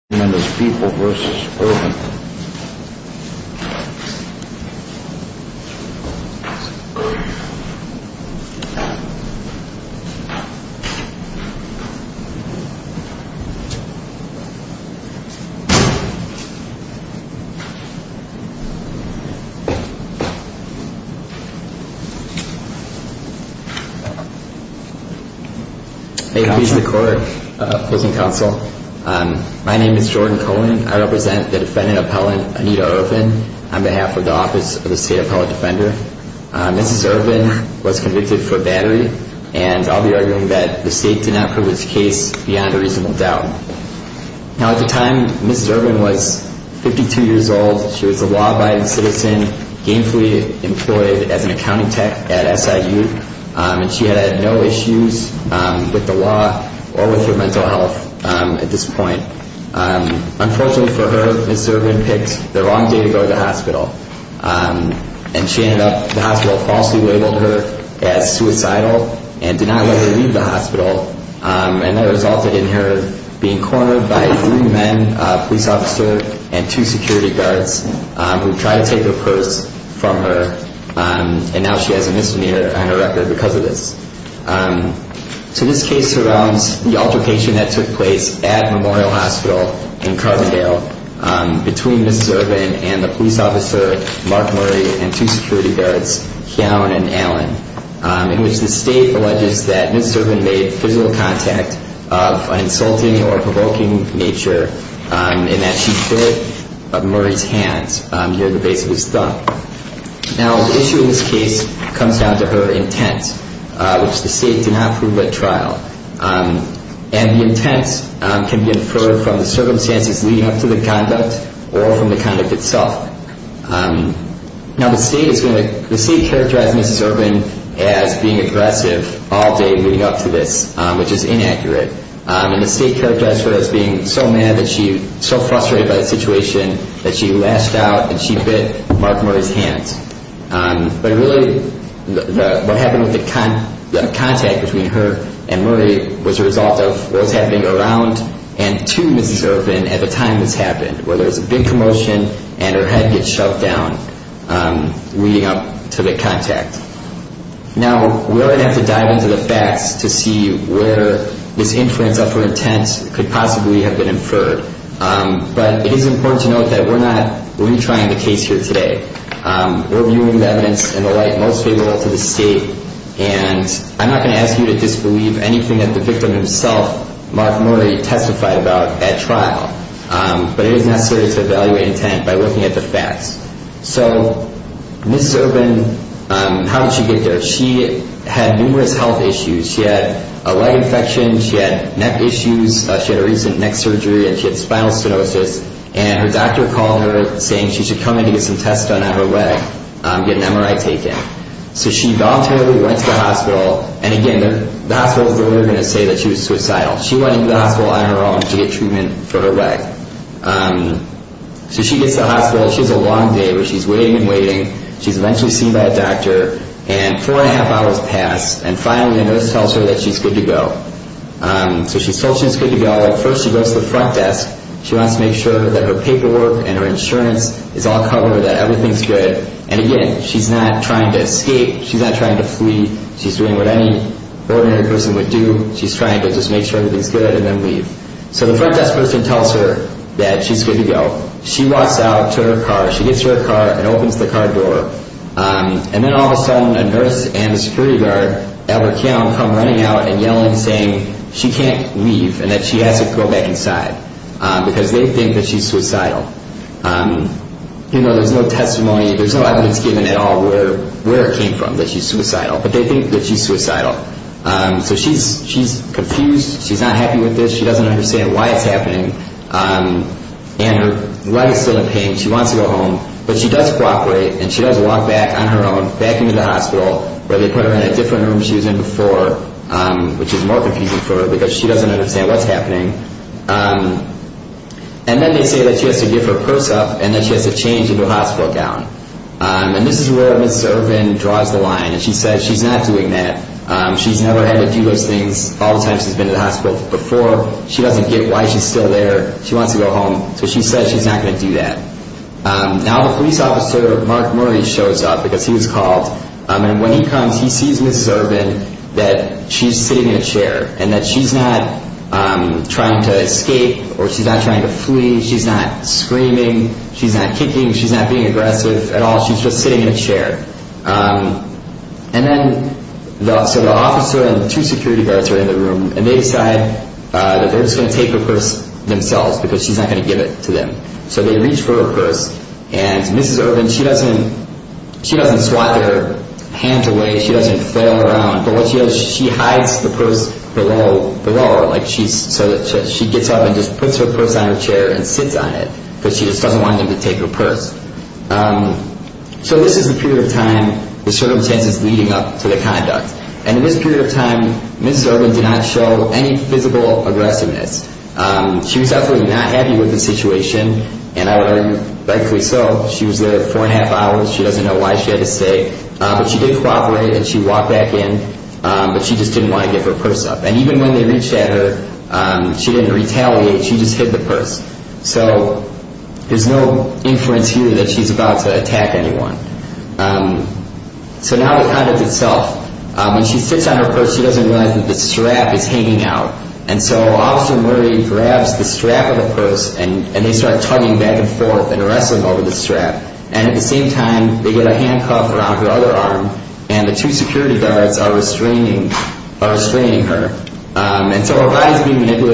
Members People v. Irvin Hey, who's the court? My name is Jordan Cohen. I represent the defendant-appellant Anita Irvin on behalf of the Office of the State Appellate Defender. Mrs. Irvin was convicted for battery, and I'll be arguing that the state did not prove its case beyond a reasonable doubt. At the time, Mrs. Irvin was 52 years old. She was a law-abiding citizen, gainfully employed as an accounting tech at SIU. She had no issues with the law or with her mental health at this point. Unfortunately for her, Mrs. Irvin picked the wrong day to go to the hospital. She ended up at the hospital, falsely labeled her as suicidal, and did not let her leave the hospital. That resulted in her being cornered by three men, a police officer and two security guards who tried to take her purse from her. Now she has a misdemeanor on her record because of this. So this case surrounds the altercation that took place at Memorial Hospital in Carbondale between Mrs. Irvin and the police officer, Mark Murray, and two security guards, Keown and Allen, in which the state alleges that Mrs. Irvin made physical contact of an insulting or provoking nature and that she bit Murray's hand near the base of his thumb. Now the issue in this case comes down to her intent, which the state did not prove at trial. And the intent can be inferred from the circumstances leading up to the conduct or from the conduct itself. Now the state characterized Mrs. Irvin as being aggressive all day leading up to this, which is inaccurate. And the state characterized her as being so mad, so frustrated by the situation, that she lashed out and she bit Mark Murray's hand. But really what happened with the contact between her and Murray was a result of what was happening around and to Mrs. Irvin at the time this happened, where there was a big commotion and her head gets shoved down leading up to the contact. Now we're going to have to dive into the facts to see where this influence of her intent could possibly have been inferred. But it is important to note that we're not retrying the case here today. We're viewing the evidence in the light most favorable to the state. And I'm not going to ask you to disbelieve anything that the victim himself, Mark Murray, testified about at trial. But it is necessary to evaluate intent by looking at the facts. So Mrs. Irvin, how did she get there? She had numerous health issues. She had a leg infection. She had neck issues. She had a recent neck surgery and she had spinal stenosis. And her doctor called her saying she should come in to get some tests done on her leg, get an MRI taken. So she voluntarily went to the hospital. And again, the hospital was never going to say that she was suicidal. She went into the hospital on her own to get treatment for her leg. So she gets to the hospital. She has a long day where she's waiting and waiting. She's eventually seen by a doctor. And four and a half hours pass. And finally a nurse tells her that she's good to go. So she's told she's good to go. First she goes to the front desk. She wants to make sure that her paperwork and her insurance is all covered, that everything's good. And again, she's not trying to escape. She's not trying to flee. She's doing what any ordinary person would do. She's trying to just make sure everything's good and then leave. So the front desk person tells her that she's good to go. She walks out to her car. She gets to her car and opens the car door. And then all of a sudden a nurse and a security guard, Albert Keown, come running out and yelling, saying she can't leave and that she has to go back inside because they think that she's suicidal. You know, there's no testimony, there's no evidence given at all where it came from, that she's suicidal. But they think that she's suicidal. So she's confused. She's not happy with this. She doesn't understand why it's happening. And her leg is still in pain. She wants to go home. But she does cooperate, and she does walk back on her own, back into the hospital, where they put her in a different room she was in before, which is more confusing for her because she doesn't understand what's happening. And then they say that she has to give her purse up and that she has to change into a hospital gown. And this is where Ms. Ervin draws the line, and she says she's not doing that. She's never had to do those things all the time she's been to the hospital before. She doesn't get why she's still there. She wants to go home. So she says she's not going to do that. Now the police officer, Mark Murray, shows up because he was called. And when he comes, he sees Ms. Ervin that she's sitting in a chair and that she's not trying to escape or she's not trying to flee. She's not screaming. She's not kicking. She's not being aggressive at all. She's just sitting in a chair. And then the officer and the two security guards are in the room, and they decide that they're just going to take the purse themselves because she's not going to give it to them. So they reach for her purse, and Ms. Ervin, she doesn't swat their hands away. She doesn't flail around. But what she does is she hides the purse below her, so that she gets up and just puts her purse on her chair and sits on it because she just doesn't want them to take her purse. So this is the period of time the circumstances leading up to the conduct. And in this period of time, Ms. Ervin did not show any physical aggressiveness. She was absolutely not happy with the situation, and I would argue rightfully so. She was there four and a half hours. She doesn't know why she had to stay. But she did cooperate, and she walked back in. But she just didn't want to give her purse up. And even when they reached at her, she didn't retaliate. She just hid the purse. So there's no inference here that she's about to attack anyone. So now the conduct itself. When she sits on her purse, she doesn't realize that the strap is hanging out. And so Officer Murray grabs the strap of the purse, and they start tugging back and forth and wrestling over the strap. And at the same time, they get a handcuff around her other arm, and the two security guards are restraining her. And so her body is being manipulated.